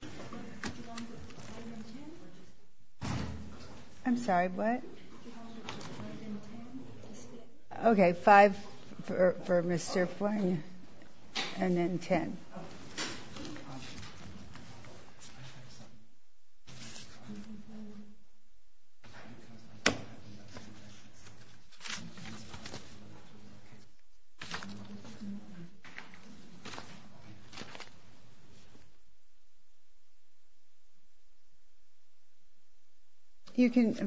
This is to clarify the Embassy of Japan's overseas holdings of the Japanese Greek Spirits and the intention of the Embassy of Japan to travel Japan and other Asian countries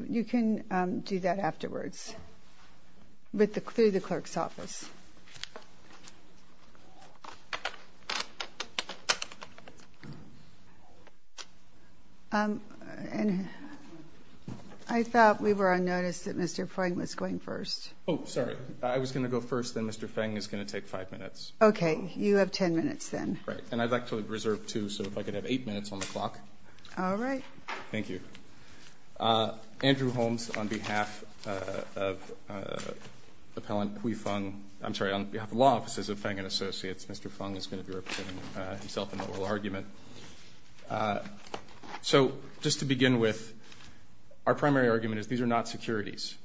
You can do that afterwards through the clerk's office. I thought we were on notice that Mr. Feng was going first. Oh, sorry. I was going to go first, then Mr. Feng is going to take five minutes. Okay. You have ten minutes then. Right. And I'd like to reserve two, so if I could have eight minutes on the clock. All right. Thank you. Andrew Holmes, on behalf of law offices of Feng & Associates, Mr. Feng is going to be representing himself in the oral argument. So just to begin with, our primary argument is these are not securities.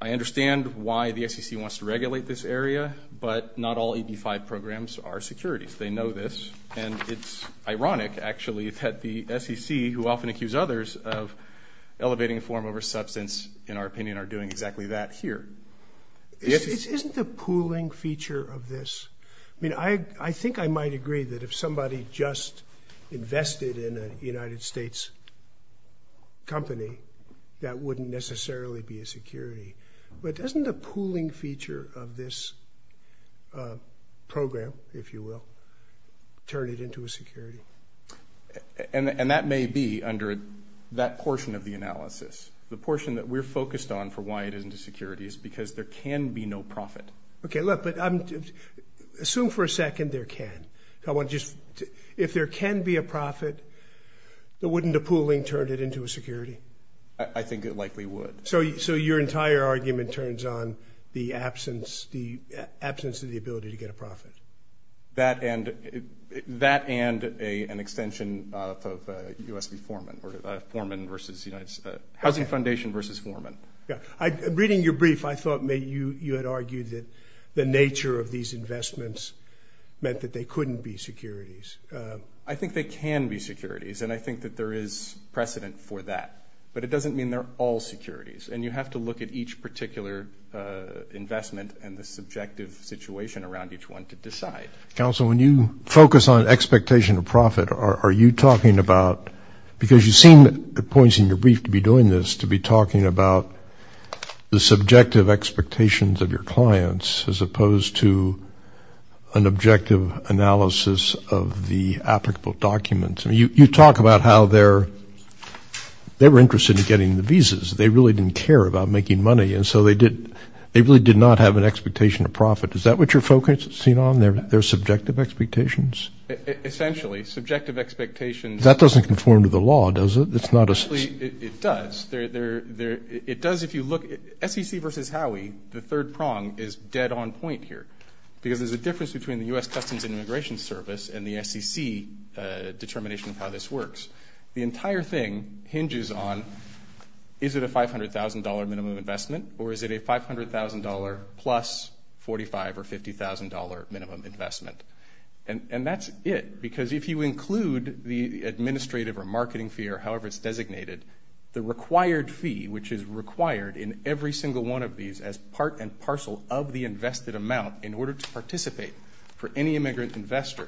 I understand why the SEC wants to regulate this area, but not all EB-5 programs are securities. They know this, and it's ironic, actually, that the SEC, who often accuse others of elevating the form over substance, in our opinion, are doing exactly that here. Isn't the pooling feature of this – I mean, I think I might agree that if somebody just that wouldn't necessarily be a security. But doesn't the pooling feature of this program, if you will, turn it into a security? And that may be under that portion of the analysis. The portion that we're focused on for why it isn't a security is because there can be no profit. Okay. Look, but assume for a second there can. If there can be a profit, then wouldn't the pooling turn it into a security? I think it likely would. So your entire argument turns on the absence of the ability to get a profit? That and an extension of U.S. v. Foreman, or Foreman versus – Housing Foundation versus Foreman. Yeah. Reading your brief, I thought you had argued that the nature of these investments meant that they couldn't be securities. I think they can be securities, and I think that there is precedent for that. But it doesn't mean they're all securities. And you have to look at each particular investment and the subjective situation around each one to decide. Counsel, when you focus on expectation of profit, are you talking about – because you seem at points in your brief to be doing this, to be talking about the subjective expectations of your clients as opposed to an objective analysis of the applicable documents. I mean, you talk about how they're – they were interested in getting the visas. They really didn't care about making money, and so they did – they really did not have an expectation of profit. Is that what you're focusing on, their subjective expectations? Essentially, subjective expectations – That doesn't conform to the law, does it? It's not a – Actually, it does. There – it does if you look – SEC versus Howey, the third prong, is dead on point here because there's a difference between the U.S. Customs and Immigration Service and the SEC determination of how this works. The entire thing hinges on is it a $500,000 minimum investment or is it a $500,000 plus $45,000 or $50,000 minimum investment. And that's it, because if you include the administrative or marketing fee or however it's designated, the required fee, which is required in every single one of these as part and parcel of the invested amount in order to participate for any immigrant investor,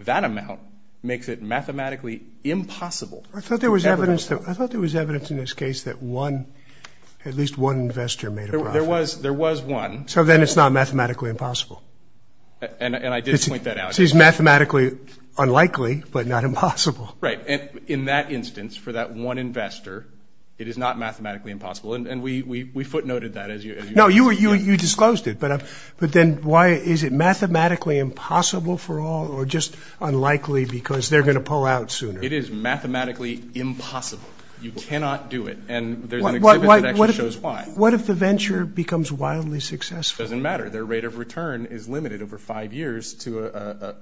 that amount makes it mathematically impossible to ever go somewhere. I thought there was evidence – I thought there was evidence in this case that one – at least one investor made a profit. There was one. So then it's not mathematically impossible. And I did point that out. So it's mathematically unlikely but not impossible. Right. And in that instance, for that one investor, it is not mathematically impossible. And we footnoted that as you – No, you disclosed it, but then why – is it mathematically impossible for all or just unlikely because they're going to pull out sooner? It is mathematically impossible. You cannot do it. And there's an exhibit that actually shows why. What if the venture becomes wildly successful? It doesn't matter. Their rate of return is limited over five years to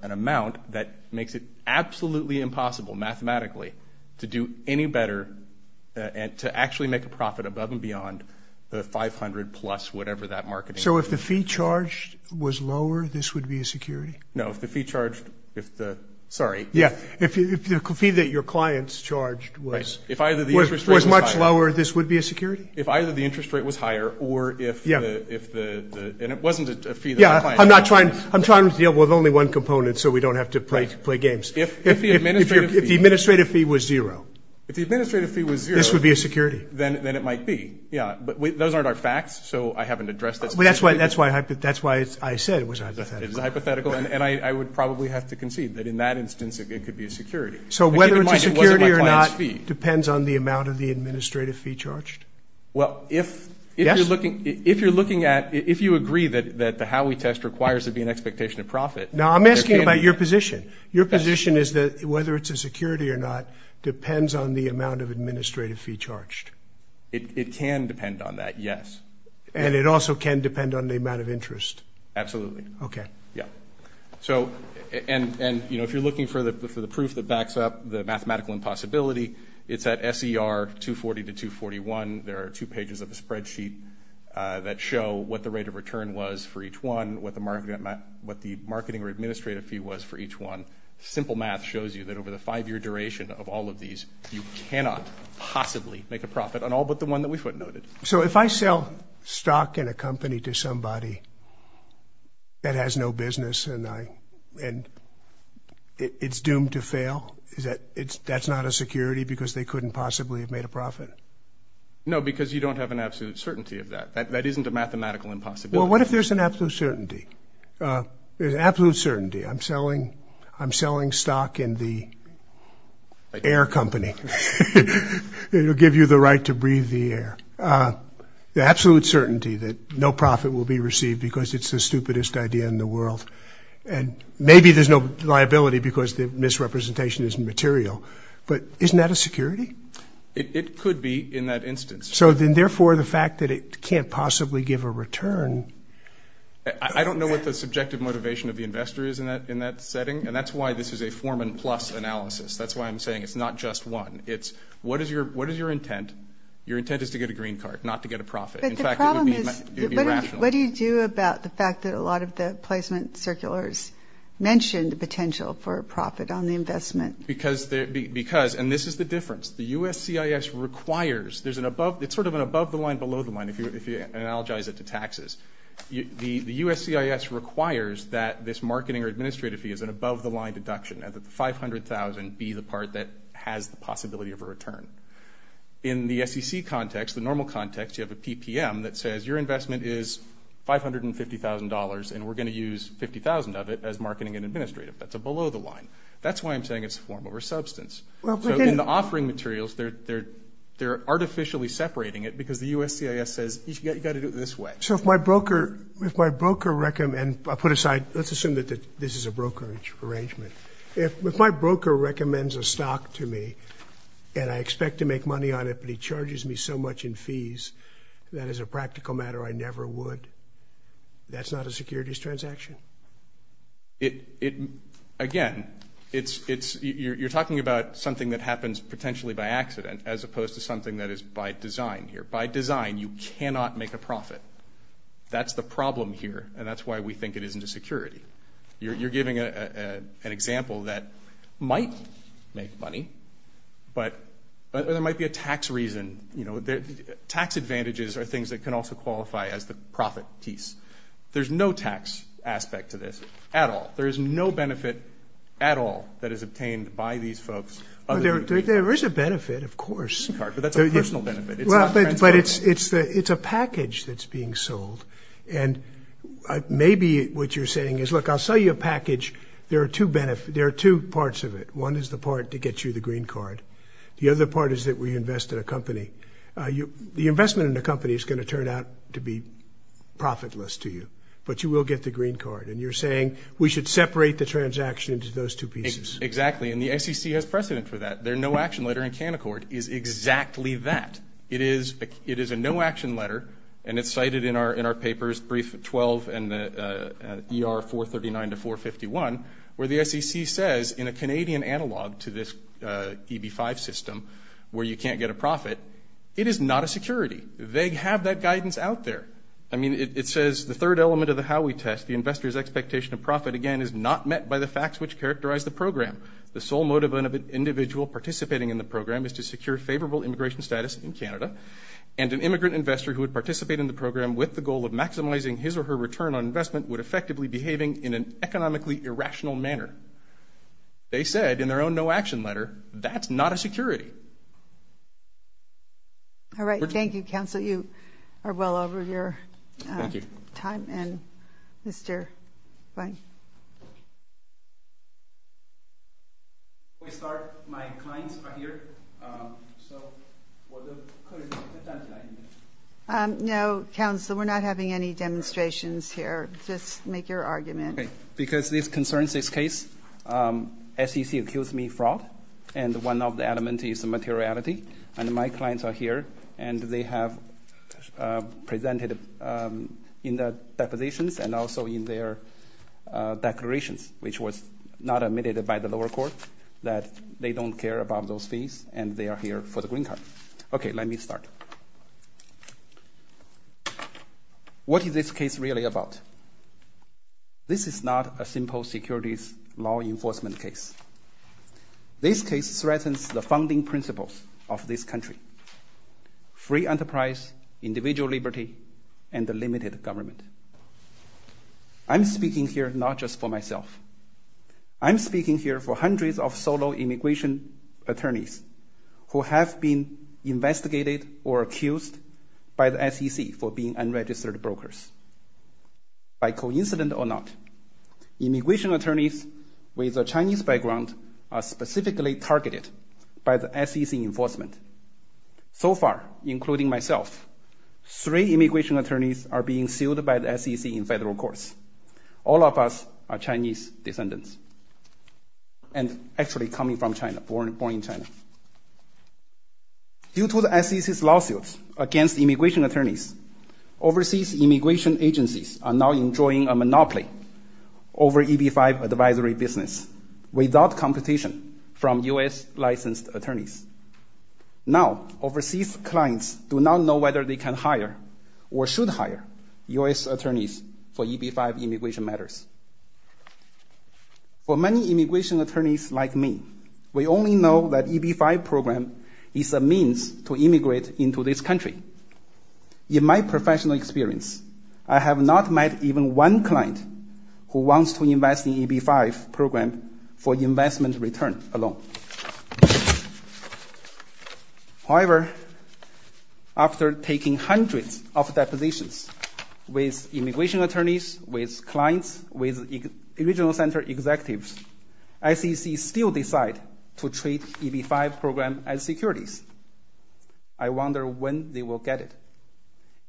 an amount that makes it absolutely impossible mathematically to do any better and to actually make a profit above and beyond the 500 plus whatever that marketing – So if the fee charged was lower, this would be a security? No. If the fee charged – if the – sorry. Yeah. If the fee that your clients charged was – Right. If either the interest rate was higher – Was much lower, this would be a security? If either the interest rate was higher or if the – and it wasn't a fee that my client charged. Yeah. I'm not trying – I'm trying to deal with only one component so we don't have to play games. If the administrative fee – If the administrative fee was zero. If the administrative fee was zero – This would be a security. Then it might be. Yeah. But those aren't our facts, so I haven't addressed this. Well, that's why – that's why I said it was a hypothetical. It is a hypothetical. And I would probably have to concede that in that instance it could be a security. So whether it's a security or not depends on the amount of the administrative fee charged? Well, if – Yes? If you're looking at – if you agree that the Howey test requires there to be an expectation of profit – No, I'm asking about your position. Your position is that whether it's a security or not depends on the amount of administrative fee charged? It can depend on that, yes. And it also can depend on the amount of interest? Absolutely. Okay. Yeah. So – and, you know, if you're looking for the – for the proof that backs up the mathematical impossibility, it's at SER 240 to 241. There are two pages of the spreadsheet that show what the rate of return was for each one, what the – what the marketing or administrative fee was for each one. Simple math shows you that over the five-year duration of all of these, you cannot possibly make a profit on all but the one that we footnoted. So if I sell stock in a company to somebody that has no business and I – and it's doomed to fail, is that – that's not a security because they couldn't possibly have made a profit? No, because you don't have an absolute certainty of that. That isn't a mathematical impossibility. Well, what if there's an absolute certainty? There's absolute certainty. I'm selling – I'm selling stock in the air company. It'll give you the right to breathe the air. The absolute certainty that no profit will be received because it's the stupidest idea in the world. And maybe there's no liability because the misrepresentation isn't material. But isn't that a security? It could be in that instance. So then, therefore, the fact that it can't possibly give a return – I don't know what the subjective motivation of the investor is in that setting. And that's why this is a Foreman Plus analysis. That's why I'm saying it's not just one. It's what is your – what is your intent? Your intent is to get a green card, not to get a profit. In fact, it would be rational. But the problem is, what do you do about the fact that a lot of the placement circulars Because – and this is the difference. The USCIS requires – there's an above – it's sort of an above the line, below the line, if you analogize it to taxes. The USCIS requires that this marketing or administrative fee is an above the line deduction and that the $500,000 be the part that has the possibility of a return. In the SEC context, the normal context, you have a PPM that says your investment is $550,000 and we're going to use $50,000 of it as marketing and administrative. That's a below the line. That's why I'm saying it's a form over substance. So in the offering materials, they're artificially separating it because the USCIS says, you've got to do it this way. So if my broker – if my broker – and I'll put aside – let's assume that this is a brokerage arrangement. If my broker recommends a stock to me and I expect to make money on it, but he charges me so much in fees, that as a practical matter, I never would, that's not a securities transaction? It – again, it's – you're talking about something that happens potentially by accident as opposed to something that is by design here. By design, you cannot make a profit. That's the problem here and that's why we think it isn't a security. You're giving an example that might make money, but there might be a tax reason. You know, tax advantages are things that can also qualify as the profit piece. There's no tax aspect to this at all. There is no benefit at all that is obtained by these folks. There is a benefit, of course. But that's a personal benefit. It's not transactional. But it's a package that's being sold and maybe what you're saying is, look, I'll sell you a package. There are two parts of it. One is the part to get you the green card. The other part is that we invest in a company. The investment in the company is going to turn out to be profitless to you, but you will get the green card. And you're saying we should separate the transaction into those two pieces. Exactly. And the SEC has precedent for that. Their no-action letter in Canaccord is exactly that. It is a no-action letter and it's cited in our papers, brief 12 and ER 439 to 451, where the SEC says in a Canadian analog to this EB-5 system where you can't get a profit, it is not a security. They have that guidance out there. I mean, it says the third element of the Howey test, the investor's expectation of profit again is not met by the facts which characterize the program. The sole motive of an individual participating in the program is to secure favorable immigration status in Canada. And an immigrant investor who would participate in the program with the goal of maximizing his or her return on investment would effectively be behaving in an economically irrational manner. They said in their own no-action letter, that's not a security. All right. Thank you, Counsel. You are well over your time. And Mr. Feng. Before we start, my clients are here, so we'll do it at that time. No, Counsel. We're not having any demonstrations here. Just make your argument. Because this concerns this case, SEC accused me fraud, and one of the element is the materiality. And my clients are here, and they have presented in their depositions and also in their declarations, which was not admitted by the lower court, that they don't care about those fees, and they are here for the green card. OK, let me start. What is this case really about? This is not a simple securities law enforcement case. This case threatens the founding principles of this country. Free enterprise, individual liberty, and a limited government. I'm speaking here not just for myself. I'm speaking here for hundreds of solo immigration attorneys who have been investigated or accused by the SEC for being unregistered brokers. By coincidence or not, immigration attorneys with a Chinese background are specifically targeted by the SEC enforcement. So far, including myself, three immigration attorneys are being sued by the SEC in federal courts. All of us are Chinese descendants and actually coming from China, born in China. Due to the SEC's lawsuits against immigration attorneys, overseas immigration agencies are now enjoying a monopoly over EB-5 advisory business without competition from U.S. licensed attorneys. Now, overseas clients do not know whether they can hire or should hire U.S. attorneys for EB-5 immigration matters. For many immigration attorneys like me, we only know that EB-5 program is a means to immigrate into this country. In my professional experience, I have not met even one client who wants to invest in EB-5 program for investment return alone. However, after taking hundreds of depositions with immigration attorneys, with clients, with regional center executives, SEC still decide to treat EB-5 program as securities. I wonder when they will get it.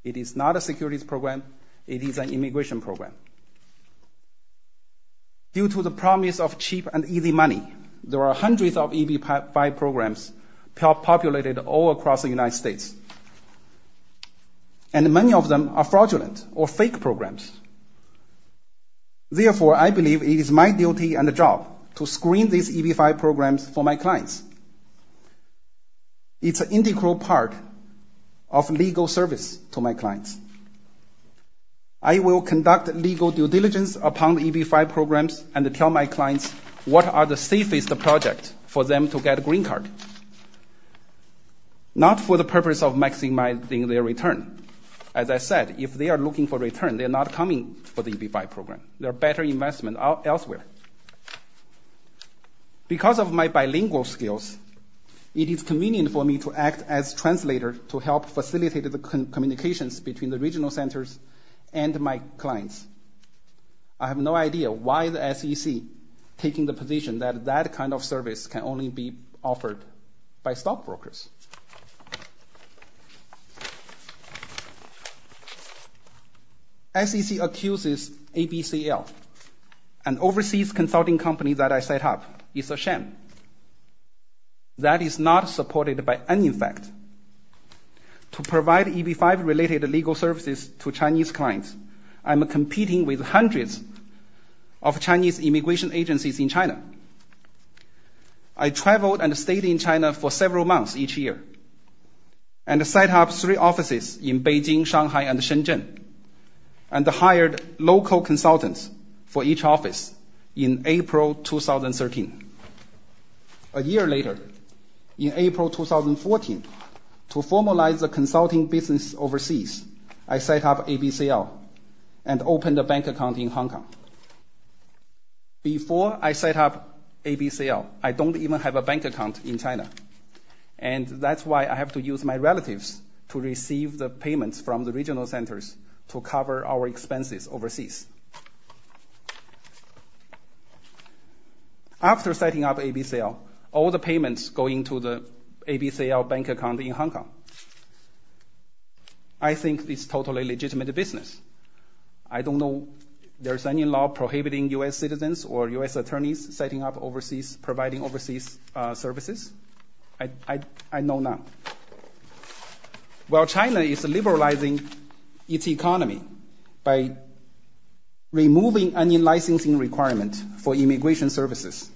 It is not a securities program. It is an immigration program. Due to the promise of cheap and easy money, there are hundreds of EB-5 programs populated all across the United States. And many of them are fraudulent or fake programs. Therefore, I believe it is my duty and job to screen these EB-5 programs for my clients. It's an integral part of legal service to my clients. I will conduct legal due diligence upon the EB-5 programs and tell my clients what are the safest projects for them to get a green card. Not for the purpose of maximizing their return. As I said, if they are looking for return, they are not coming for the EB-5 program. There are better investments elsewhere. Because of my bilingual skills, it is convenient for me to act as translator to help facilitate the communications between the regional centers and my clients. I have no idea why the SEC is taking the position that that kind of service can only be offered by stockbrokers. SEC accuses ABCL, an overseas consulting company that I set up, is a sham. That is not supported by any fact. To provide EB-5 related legal services to Chinese clients, I am competing with hundreds of Chinese immigration agencies in China. I traveled and stayed in China for several months each year. And I set up three offices in Beijing, Shanghai and Shenzhen. And I hired local consultants for each office in April 2013. A year later, in April 2014, to formalize the consulting business overseas, I set up ABCL and opened a bank account in Hong Kong. Before I set up ABCL, I didn't even have a bank account in China. And that's why I have to use my relatives to receive the payments from the regional centers to cover our expenses overseas. After setting up ABCL, all the payments go into the ABCL bank account in Hong Kong. I think it's a totally legitimate business. I don't know there's any law prohibiting U.S. citizens or U.S. attorneys setting up overseas, providing overseas services. I know none. While China is liberalizing its economy by removing any licensing requirement for immigration services,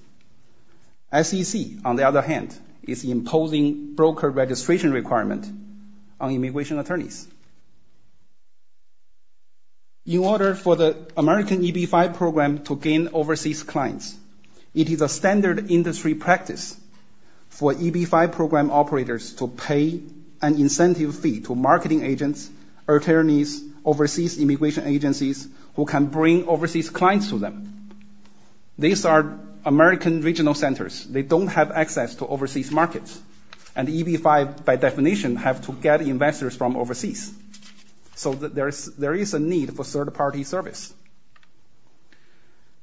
SEC, on the other hand, is imposing broker registration requirement on immigration attorneys. In order for the American EB-5 program to gain overseas clients, it is a standard industry practice for EB-5 program operators to pay an incentive fee to marketing agents, attorneys, overseas immigration agencies who can bring overseas clients to them. These are American regional centers. They don't have access to overseas markets. And EB-5, by definition, have to get investors from overseas. So there is a need for third-party service.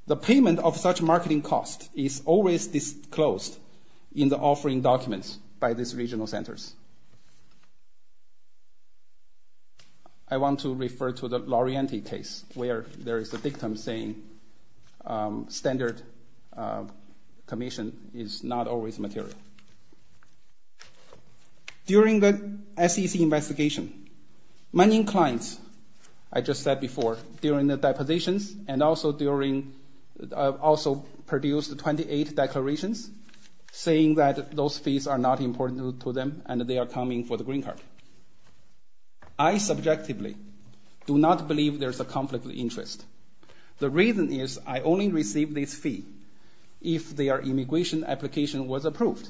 The payment of such marketing cost is always disclosed in the offering documents by these regional centers. I want to refer to the Lorienti case, where there is a victim saying standard commission is not always material. During the SEC investigation, many clients, I just said before, during the depositions and also during, also produced 28 declarations saying that those fees are not important to them and they are coming for the green card. I subjectively do not believe there is a conflict of interest. The reason is I only received this fee if their immigration application was approved.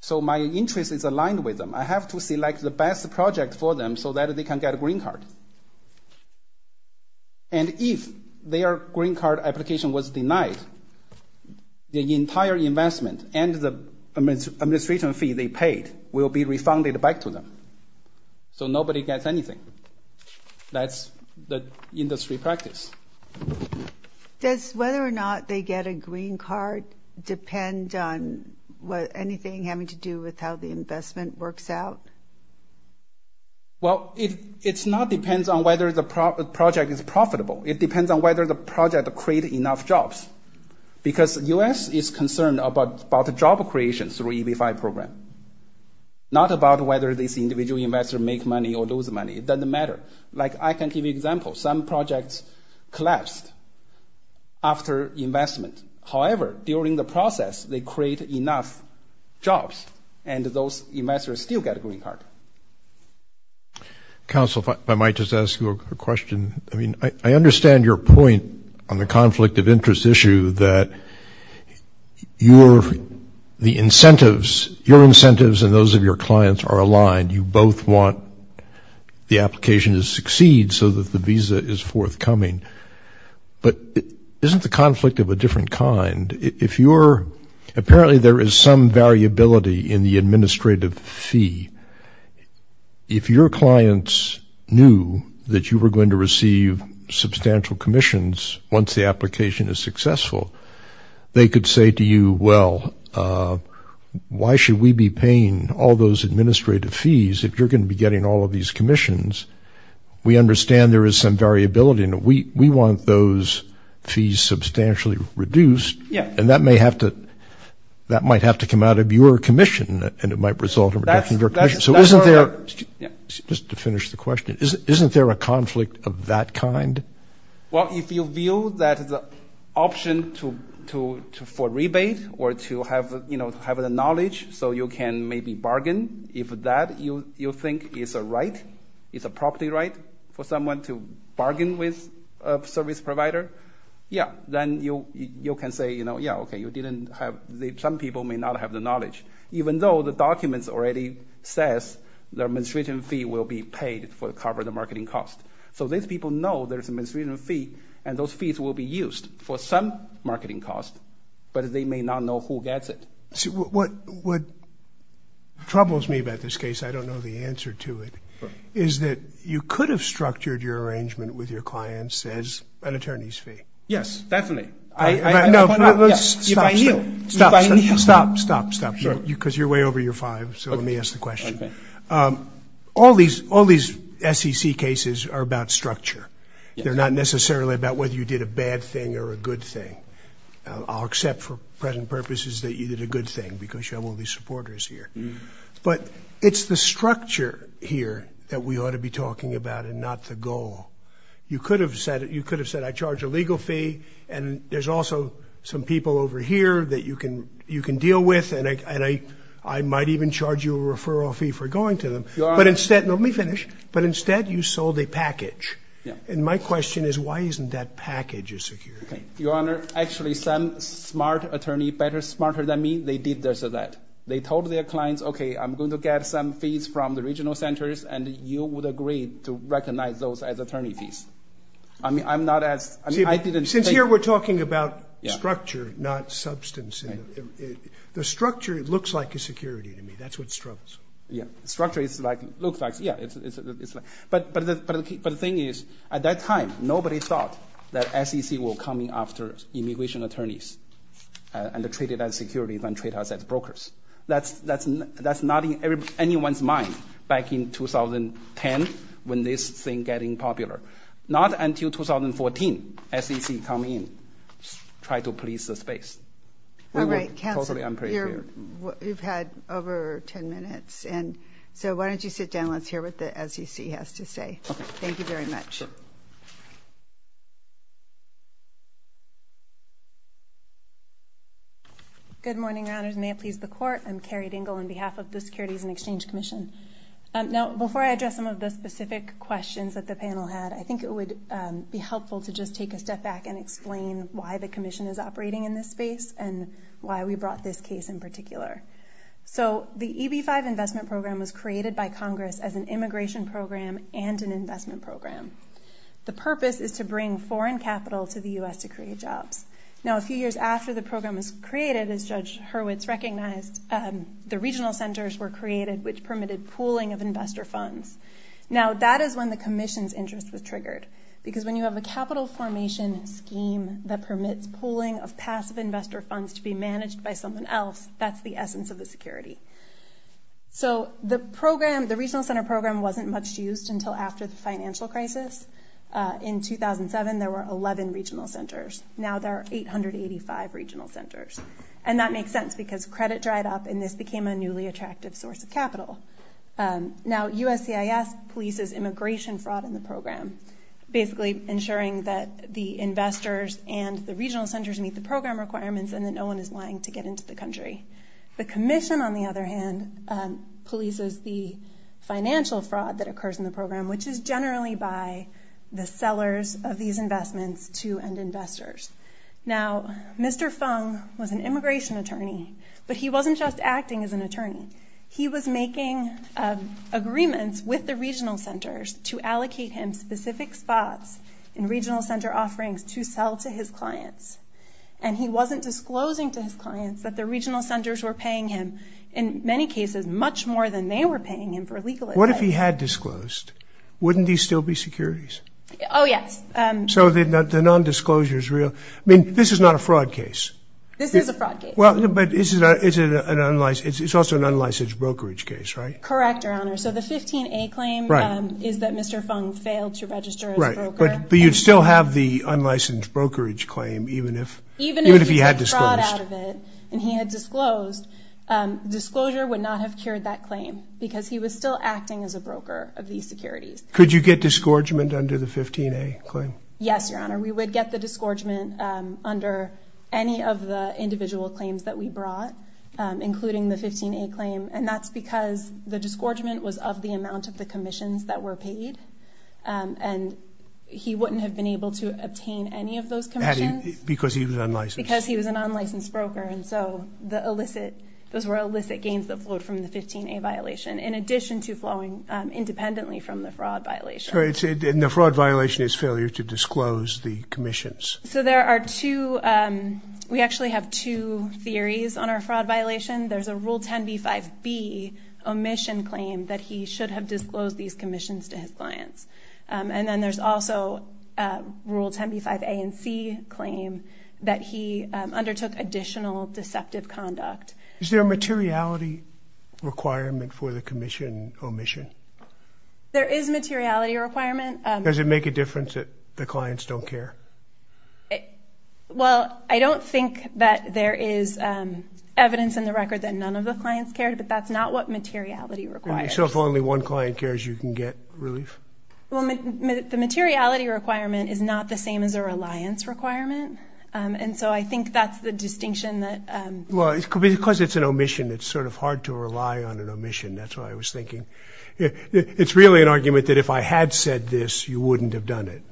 So my interest is aligned with them. I have to select the best project for them so that they can get a green card. And if their green card application was denied, the entire investment and the administration fee they paid will be refunded back to them. So nobody gets anything. That's the industry practice. Does whether or not they get a green card depend on anything having to do with how the investment works out? Well, it's not depends on whether the project is profitable. It depends on whether the project create enough jobs. Because U.S. is concerned about the job creation through EB-5 program, not about whether this individual investor make money or lose money. It doesn't matter. Like I can give you example. Some projects collapsed after investment. However, during the process, they create enough jobs and those investors still get a green card. Council, if I might just ask you a question. I mean, I understand your point on the conflict of interest issue that your incentives and those of your clients are aligned. You both want the application to succeed so that the visa is forthcoming. But isn't the conflict of a different kind? If you're – apparently there is some variability in the administrative fee. If your clients knew that you were going to receive substantial commissions once the application is successful, they could say to you, why should we be paying all those administrative fees if you're going to be getting all of these commissions? We understand there is some variability. We want those fees substantially reduced. And that may have to – that might have to come out of your commission and it might result in reduction of your commission. So isn't there – just to finish the question. Isn't there a conflict of that kind? Well, if you view that as an option for rebate or to have the knowledge so you can maybe bargain, if that you think is a right, is a property right, for someone to bargain with a service provider, yeah. Then you can say, yeah, okay, you didn't have – some people may not have the knowledge. Even though the documents already says the administrative fee will be paid for covering the marketing cost. So these people know there's an administrative fee and those fees will be used for some marketing cost, but they may not know who gets it. What troubles me about this case, I don't know the answer to it, is that you could have structured your arrangement with your clients as an attorney's fee. Yes, definitely. No, stop, stop, stop. Because you're way over your five, so let me ask the question. All these SEC cases are about structure. They're not necessarily about whether you did a bad thing or a good thing. I'll accept for present purposes that you did a good thing because you have all these supporters here. But it's the structure here that we ought to be talking about and not the goal. You could have said I charge a legal fee and there's also some people over here that you can deal with and I might even charge you a referral fee for going to them. But instead, let me finish, but instead you sold a package. And my question is why isn't that package a security? Your Honor, actually some smart attorney, better smarter than me, they did this or that. They told their clients, okay, I'm going to get some fees from the regional centers, and you would agree to recognize those as attorney fees. Since here we're talking about structure, not substance, the structure looks like a security to me. That's what struggles. Structure looks like, yeah. But the thing is, at that time, nobody thought that SEC will come in after immigration attorneys and treat it as security than treat us as brokers. That's not in anyone's mind back in 2010 when this thing getting popular. Not until 2014, SEC come in, try to police the space. All right, counsel, you've had over 10 minutes, and so why don't you sit down? Let's hear what the SEC has to say. Thank you very much. Good morning, Your Honors. May it please the Court, I'm Carrie Dingell on behalf of the Securities and Exchange Commission. Now before I address some of the specific questions that the panel had, I think it would be helpful to just take a step back and explain why the Commission is operating in this space and why we brought this case in particular. So the EB-5 investment program was created by Congress as an immigration program and an investment program. The purpose is to bring foreign capital to the U.S. to create jobs. Now a few years after the program was created, as Judge Hurwitz recognized, the regional centers were created, which permitted pooling of investor funds. Now that is when the Commission's interest was triggered because when you have a capital formation scheme that permits pooling of passive investor funds to be managed by someone else, that's the essence of the security. So the regional center program wasn't much used until after the financial crisis. In 2007, there were 11 regional centers. Now there are 885 regional centers. And that makes sense because credit dried up and this became a newly attractive source of capital. Now USCIS polices immigration fraud in the program, basically ensuring that the investors and the regional centers meet the program requirements and that no one is lying to get into the country. The Commission, on the other hand, polices the financial fraud that occurs in the program, which is generally by the sellers of these investments to end investors. Now Mr. Fung was an immigration attorney, but he wasn't just acting as an attorney. He was making agreements with the regional centers to allocate him specific spots in regional center offerings to sell to his clients. And he wasn't disclosing to his clients that the regional centers were paying him, in many cases, much more than they were paying him for legal advice. What if he had disclosed? Wouldn't these still be securities? Oh yes. So the non-disclosure is real. I mean, this is not a fraud case. This is a fraud case. But it's also an unlicensed brokerage case, right? Correct, Your Honor. So the 15A claim is that Mr. Fung failed to register as a broker. But you'd still have the unlicensed brokerage claim even if he had disclosed. Even if he had fraud out of it and he had disclosed, disclosure would not have cured that claim because he was still acting as a broker of these securities. Could you get disgorgement under the 15A claim? Yes, Your Honor. We would get the disgorgement under any of the individual claims that we brought, including the 15A claim. And that's because the disgorgement was of the amount of the commissions that were paid. And he wouldn't have been able to obtain any of those commissions. Because he was unlicensed. Because he was an unlicensed broker. And so those were illicit gains that flowed from the 15A violation, in addition to flowing independently from the fraud violation. And the fraud violation is failure to disclose the commissions. So there are two. We actually have two theories on our fraud violation. There's a Rule 10b-5b, omission claim that he should have disclosed these commissions to his clients. And then there's also a Rule 10b-5a and c claim that he undertook additional deceptive conduct. Is there a materiality requirement for the commission omission? There is a materiality requirement. Does it make a difference that the clients don't care? Well, I don't think that there is evidence in the record that none of the clients cared. But that's not what materiality requires. So if only one client cares, you can get relief? The materiality requirement is not the same as a reliance requirement. And so I think that's the distinction. Well, because it's an omission, it's sort of hard to rely on an omission. That's what I was thinking. It's really an argument that if I had said this, you wouldn't have done it.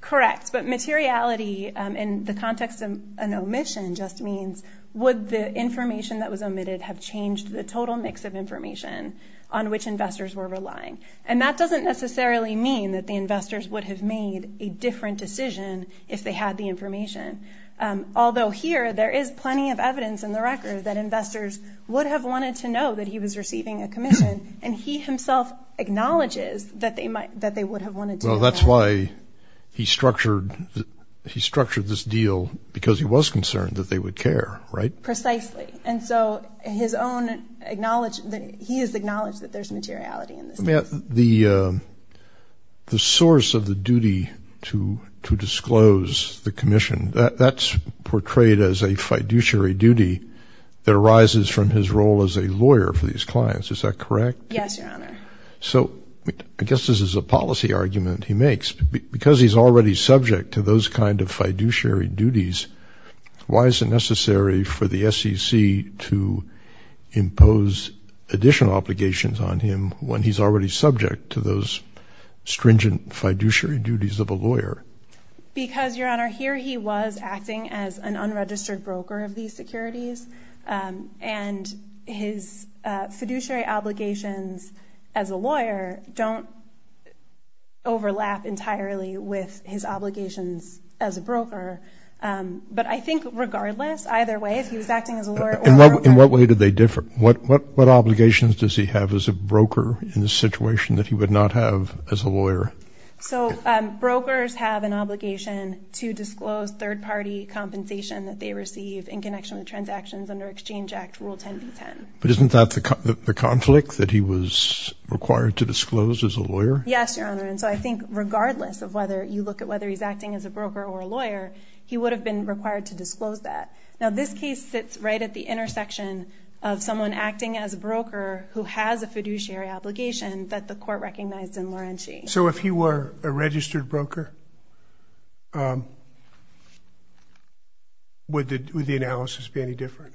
Correct. But materiality in the context of an omission just means would the information that was omitted have changed the total mix of information on which investors were relying? And that doesn't necessarily mean that the investors would have made a different decision if they had the information. Although here, there is plenty of evidence in the record that investors would have wanted to know that he was receiving a commission. And he himself acknowledges that they would have wanted to know that. Well, that's why he structured this deal, because he was concerned that they would care, right? Precisely. And so he has acknowledged that there's materiality in this case. The source of the duty to disclose the commission, that's portrayed as a fiduciary duty that arises from his role as a lawyer for these clients. Is that correct? Yes, Your Honor. So I guess this is a policy argument he makes. Because he's already subject to those kind of fiduciary duties, why is it necessary for the SEC to impose additional obligations on him when he's already subject to those stringent fiduciary duties of a lawyer? Because, Your Honor, here he was acting as an unregistered broker of these securities, and his fiduciary obligations as a lawyer don't overlap entirely with his obligations as a broker. But I think regardless, either way, if he was acting as a lawyer or a broker... In what way do they differ? What obligations does he have as a broker in this situation that he would not have as a lawyer? So brokers have an obligation to disclose third-party compensation that they receive in connection with transactions under Exchange Act Rule 10b-10. But isn't that the conflict that he was required to disclose as a lawyer? Yes, Your Honor. And so I think regardless of whether you look at whether he's acting as a broker or a lawyer, he would have been required to disclose that. Now, this case sits right at the intersection of someone acting as a broker who has a fiduciary obligation that the court recognized in Laurenti. So if he were a registered broker, would the analysis be any different?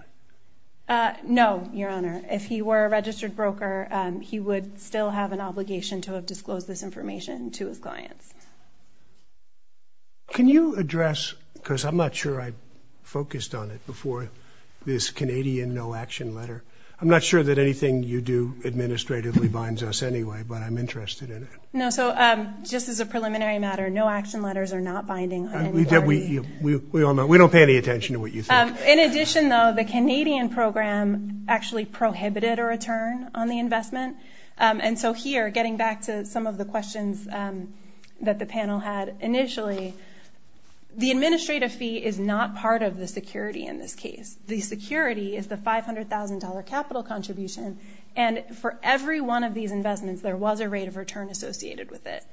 No, Your Honor. If he were a registered broker, he would still have an obligation to have disclosed this information to his clients. Can you address, because I'm not sure I focused on it before this Canadian no-action letter. I'm not sure that anything you do administratively binds us anyway, but I'm interested in it. No, so just as a preliminary matter, no-action letters are not binding. We don't pay any attention to what you say. In addition, though, the Canadian program actually prohibited a return on the investment. And so here, getting back to some of the questions that the panel had initially, the administrative fee is not part of the security in this case. The security is the $500,000 capital contribution, and for every one of these investments, there was a rate of return associated with it.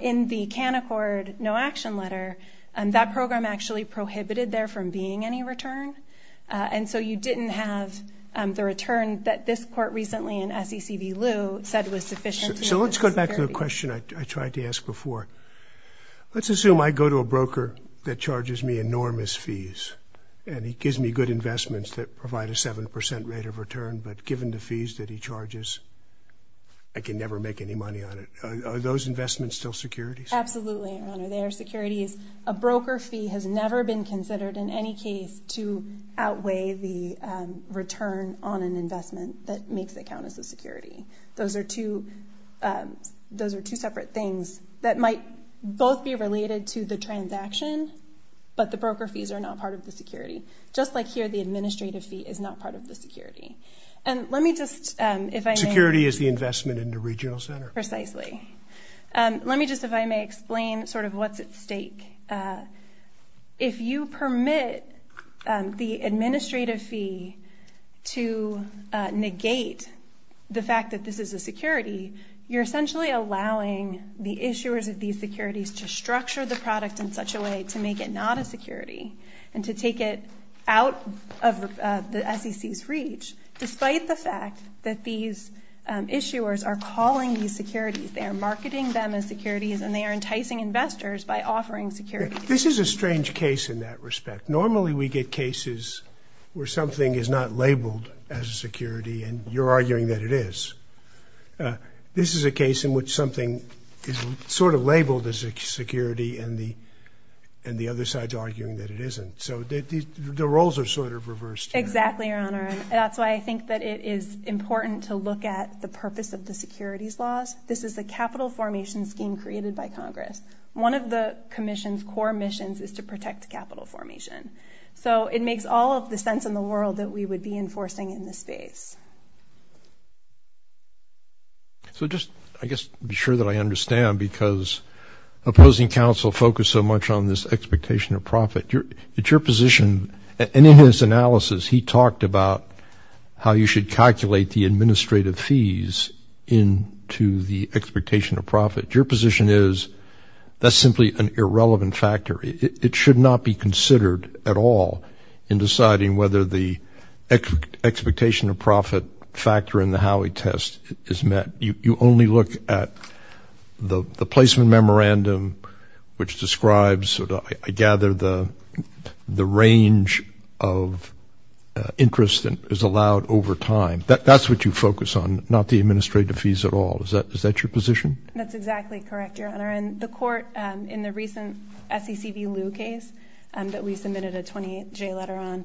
In the CanAccord no-action letter, that program actually prohibited there from being any return. And so you didn't have the return that this court recently in SEC v. Lew said was sufficient to make the security. So let's go back to the question I tried to ask before. Let's assume I go to a broker that charges me enormous fees, and he gives me good investments that provide a 7% rate of return, but given the fees that he charges, I can never make any money on it. Are those investments still securities? Absolutely, Your Honor. They are securities. A broker fee has never been considered in any case to outweigh the return on an investment that makes it count as a security. Those are two separate things that might both be related to the transaction, but the broker fees are not part of the security. Just like here, the administrative fee is not part of the security. And let me just, if I may... Security is the investment in the regional center. Precisely. Let me just, if I may, explain sort of what's at stake. If you permit the administrative fee to negate the fact that this is a security, you're essentially allowing the issuers of these securities to structure the product in such a way to make it not a security and to take it out of the SEC's reach, despite the fact that these issuers are calling these securities. They are marketing them as securities, and they are enticing investors by offering securities. This is a strange case in that respect. Normally, we get cases where something is not labeled as a security, and you're arguing that it is. This is a case in which something is sort of labeled as a security, and the other side's arguing that it isn't. So the roles are sort of reversed here. Exactly, Your Honor, and that's why I think that it is important to look at the purpose of the securities laws. This is a capital formation scheme created by Congress. One of the Commission's core missions is to protect capital formation. So it makes all of the sense in the world that we would be enforcing in this space. So just, I guess, to be sure that I understand, because opposing counsel focused so much on this expectation of profit. It's your position, and in his analysis, he talked about how you should calculate the administrative fees into the expectation of profit. Your position is that's simply an irrelevant factor. It should not be considered at all in deciding whether the expectation of profit factor in the Howey test is met. You only look at the placement memorandum, which describes, I gather, the range of interest that is allowed over time. That's what you focus on, not the administrative fees at all. Is that your position? That's exactly correct, Your Honor. In the court, in the recent SEC v. Lew case that we submitted a 28-J letter on,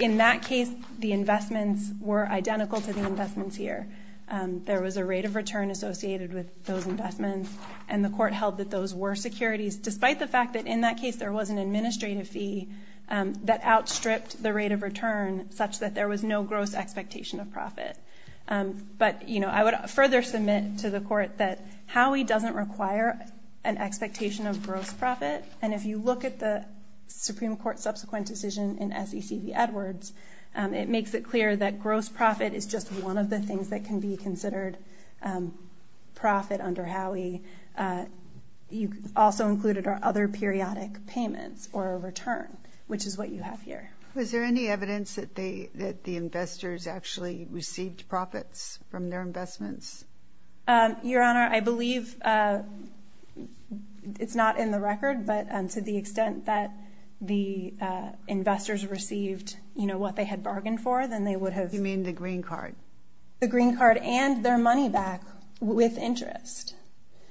in that case, the investments were identical to the investments here. There was a rate of return associated with those investments, and the court held that those were securities, despite the fact that, in that case, there was an administrative fee that outstripped the rate of return, such that there was no gross expectation of profit. But I would further submit to the court that Howey doesn't require an expectation of gross profit, and if you look at the Supreme Court's subsequent decision in SEC v. Edwards, it makes it clear that gross profit is just one of the things that can be considered profit under Howey. You also included other periodic payments or a return, which is what you have here. Was there any evidence that the investors actually received profits from their investments? Your Honor, I believe it's not in the record, but to the extent that the investors received, you know, what they had bargained for, then they would have... You mean the green card? The green card and their money back with interest.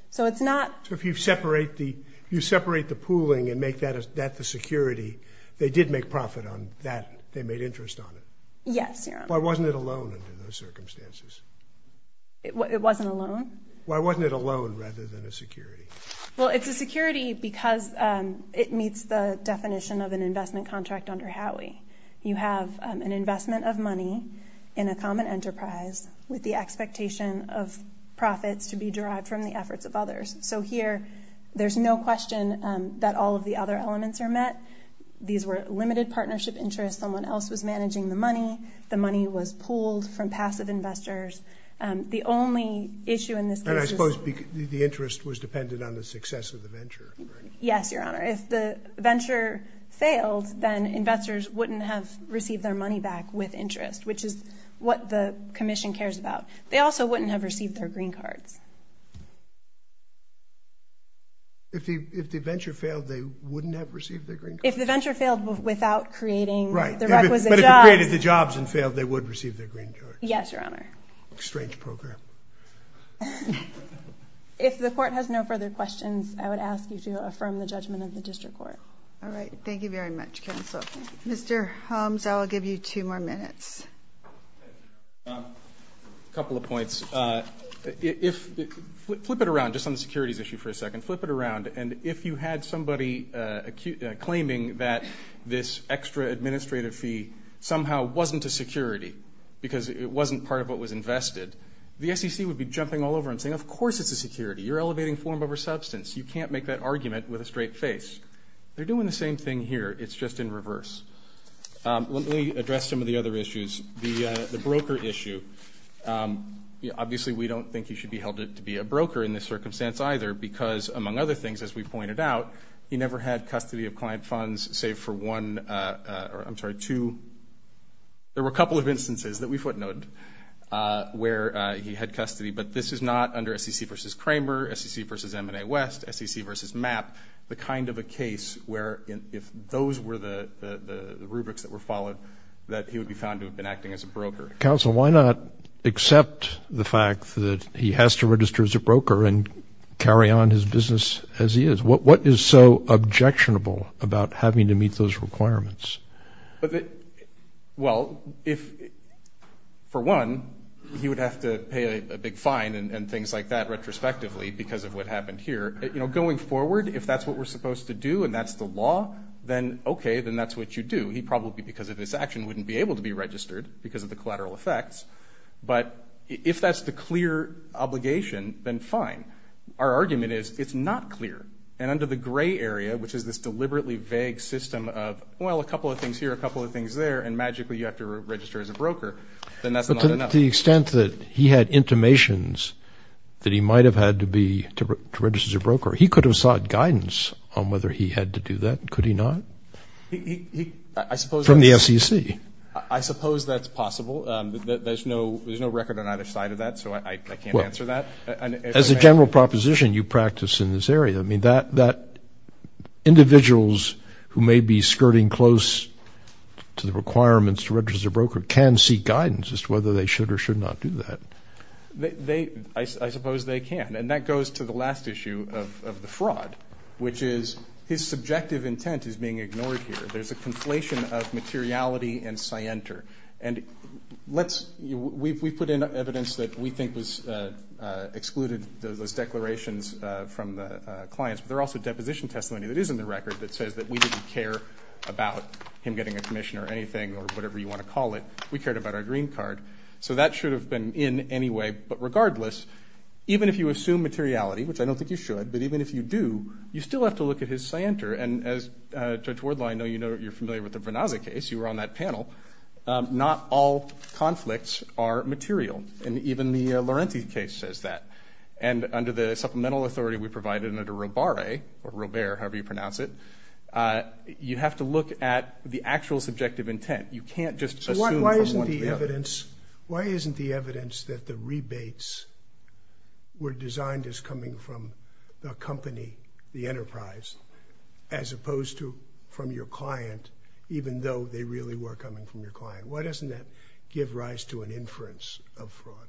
So it's not... So if you separate the pooling and make that the security, they did make profit on that, they made interest on it? Yes, Your Honor. Why wasn't it a loan under those circumstances? It wasn't a loan? Why wasn't it a loan rather than a security? Well, it's a security because it meets the definition of an investment contract under Howey. You have an investment of money in a common enterprise with the expectation of profits to be derived from the efforts of others. So here there's no question that all of the other elements are met. These were limited partnership interests. Someone else was managing the money. The money was pooled from passive investors. The only issue in this case is... And I suppose the interest was dependent on the success of the venture. Yes, Your Honor. If the venture failed, then investors wouldn't have received their money back with interest, which is what the commission cares about. They also wouldn't have received their green cards. If the venture failed, they wouldn't have received their green cards? If the venture failed without creating the requisite jobs... Right, but if they created the jobs and failed, they would receive their green cards. Yes, Your Honor. Strange program. If the court has no further questions, I would ask you to affirm the judgment of the district court. All right, thank you very much, counsel. Mr. Holmes, I will give you two more minutes. A couple of points. Flip it around, just on the securities issue for a second. Flip it around, and if you had somebody claiming that this extra administrative fee somehow wasn't a security because it wasn't part of what was invested, the SEC would be jumping all over and saying, of course it's a security. You're elevating form over substance. You can't make that argument with a straight face. They're doing the same thing here. It's just in reverse. Let me address some of the other issues. The broker issue. Obviously, we don't think he should be held to be a broker in this circumstance either because, among other things, as we pointed out, he never had custody of client funds save for one, I'm sorry, two. There were a couple of instances that we footnoted where he had custody, but this is not under SEC v. Kramer, SEC v. M&A West, SEC v. MAP, the kind of a case where if those were the rubrics that were followed, that he would be found to have been acting as a broker. Counsel, why not accept the fact that he has to register as a broker and carry on his business as he is? What is so objectionable about having to meet those requirements? Well, for one, he would have to pay a big fine and things like that retrospectively because of what happened here. Going forward, if that's what we're supposed to do and that's the law, then okay, then that's what you do. He probably, because of his action, wouldn't be able to be registered because of the collateral effects. But if that's the clear obligation, then fine. Our argument is it's not clear. And under the gray area, which is this deliberately vague system of, well, a couple of things here, a couple of things there, and magically you have to register as a broker, then that's not enough. But to the extent that he had intimations that he might have had to register as a broker, he could have sought guidance on whether he had to do that. Could he not? From the SEC? I suppose that's possible. There's no record on either side of that, so I can't answer that. As a general proposition, you practice in this area. I mean, individuals who may be skirting close to the requirements to register as a broker can seek guidance as to whether they should or should not do that. I suppose they can. And that goes to the last issue of the fraud, which is his subjective intent is being ignored here. There's a conflation of materiality and scienter. And we've put in evidence that we think was excluded, those declarations from the clients, but there's also deposition testimony that is in the record that says that we didn't care about him getting a commission or anything or whatever you want to call it. We cared about our green card. So that should have been in anyway. But regardless, even if you assume materiality, which I don't think you should, but even if you do, you still have to look at his scienter. And as Judge Wardlaw, I know you're familiar with the Venazza case. You were on that panel. Not all conflicts are material. And even the Laurenti case says that. And under the supplemental authority we provided under Robare, however you pronounce it, you have to look at the actual subjective intent. You can't just assume from one to the other. So why isn't the evidence that the rebates were designed as coming from the company, the enterprise, as opposed to from your client, even though they really were coming from your client? Why doesn't that give rise to an inference of fraud?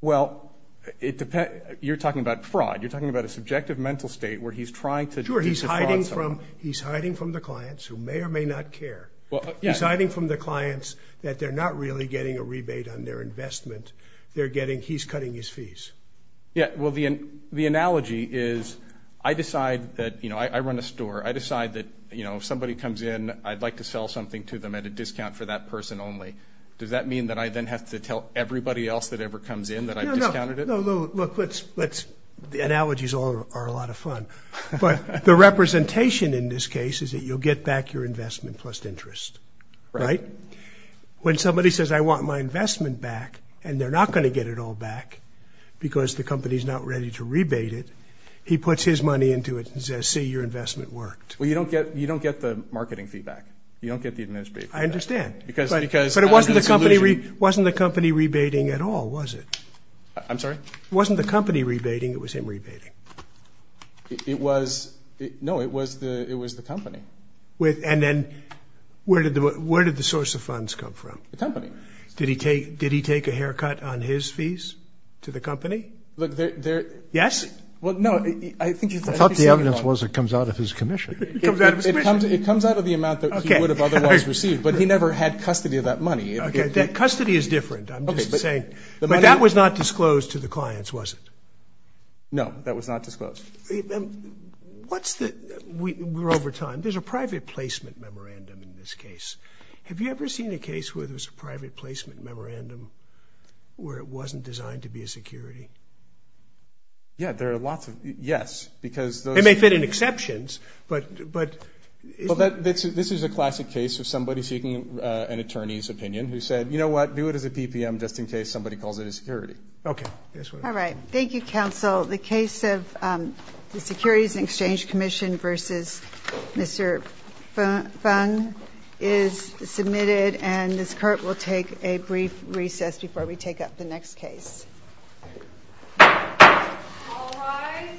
Well, it depends. You're talking about fraud. You're talking about a subjective mental state where he's trying to defraud someone. Sure, he's hiding from the clients who may or may not care. He's hiding from the clients that they're not really getting a rebate on their investment. They're getting he's cutting his fees. Yeah, well, the analogy is I decide that, you know, I run a store. I decide that, you know, if somebody comes in, I'd like to sell something to them at a discount for that person only. Does that mean that I then have to tell everybody else that ever comes in that I've discounted it? No, no. Look, the analogies are a lot of fun. But the representation in this case is that you'll get back your investment plus interest, right? When somebody says, I want my investment back, and they're not going to get it all back because the company is not ready to rebate it, he puts his money into it and says, see, your investment worked. Well, you don't get the marketing feedback. You don't get the administrative feedback. I understand. But it wasn't the company rebating at all, was it? I'm sorry? It wasn't the company rebating. It was him rebating. No, it was the company. And then where did the source of funds come from? The company. Did he take a haircut on his fees to the company? Yes? Well, no. I thought the evidence was it comes out of his commission. It comes out of his commission. It comes out of the amount that he would have otherwise received, but he never had custody of that money. Okay, that custody is different. I'm just saying. But that was not disclosed to the clients, was it? No, that was not disclosed. We're over time. There's a private placement memorandum in this case. Have you ever seen a case where there's a private placement memorandum where it wasn't designed to be a security? Yeah, there are lots of, yes. It may fit in exceptions, but. Well, this is a classic case of somebody seeking an attorney's opinion who said, you know what? Do it as a PPM just in case somebody calls it a security. Okay. All right. Thank you, counsel. The case of the Securities and Exchange Commission versus Mr. Fung is submitted, and this court will take a brief recess before we take up the next case. All rise.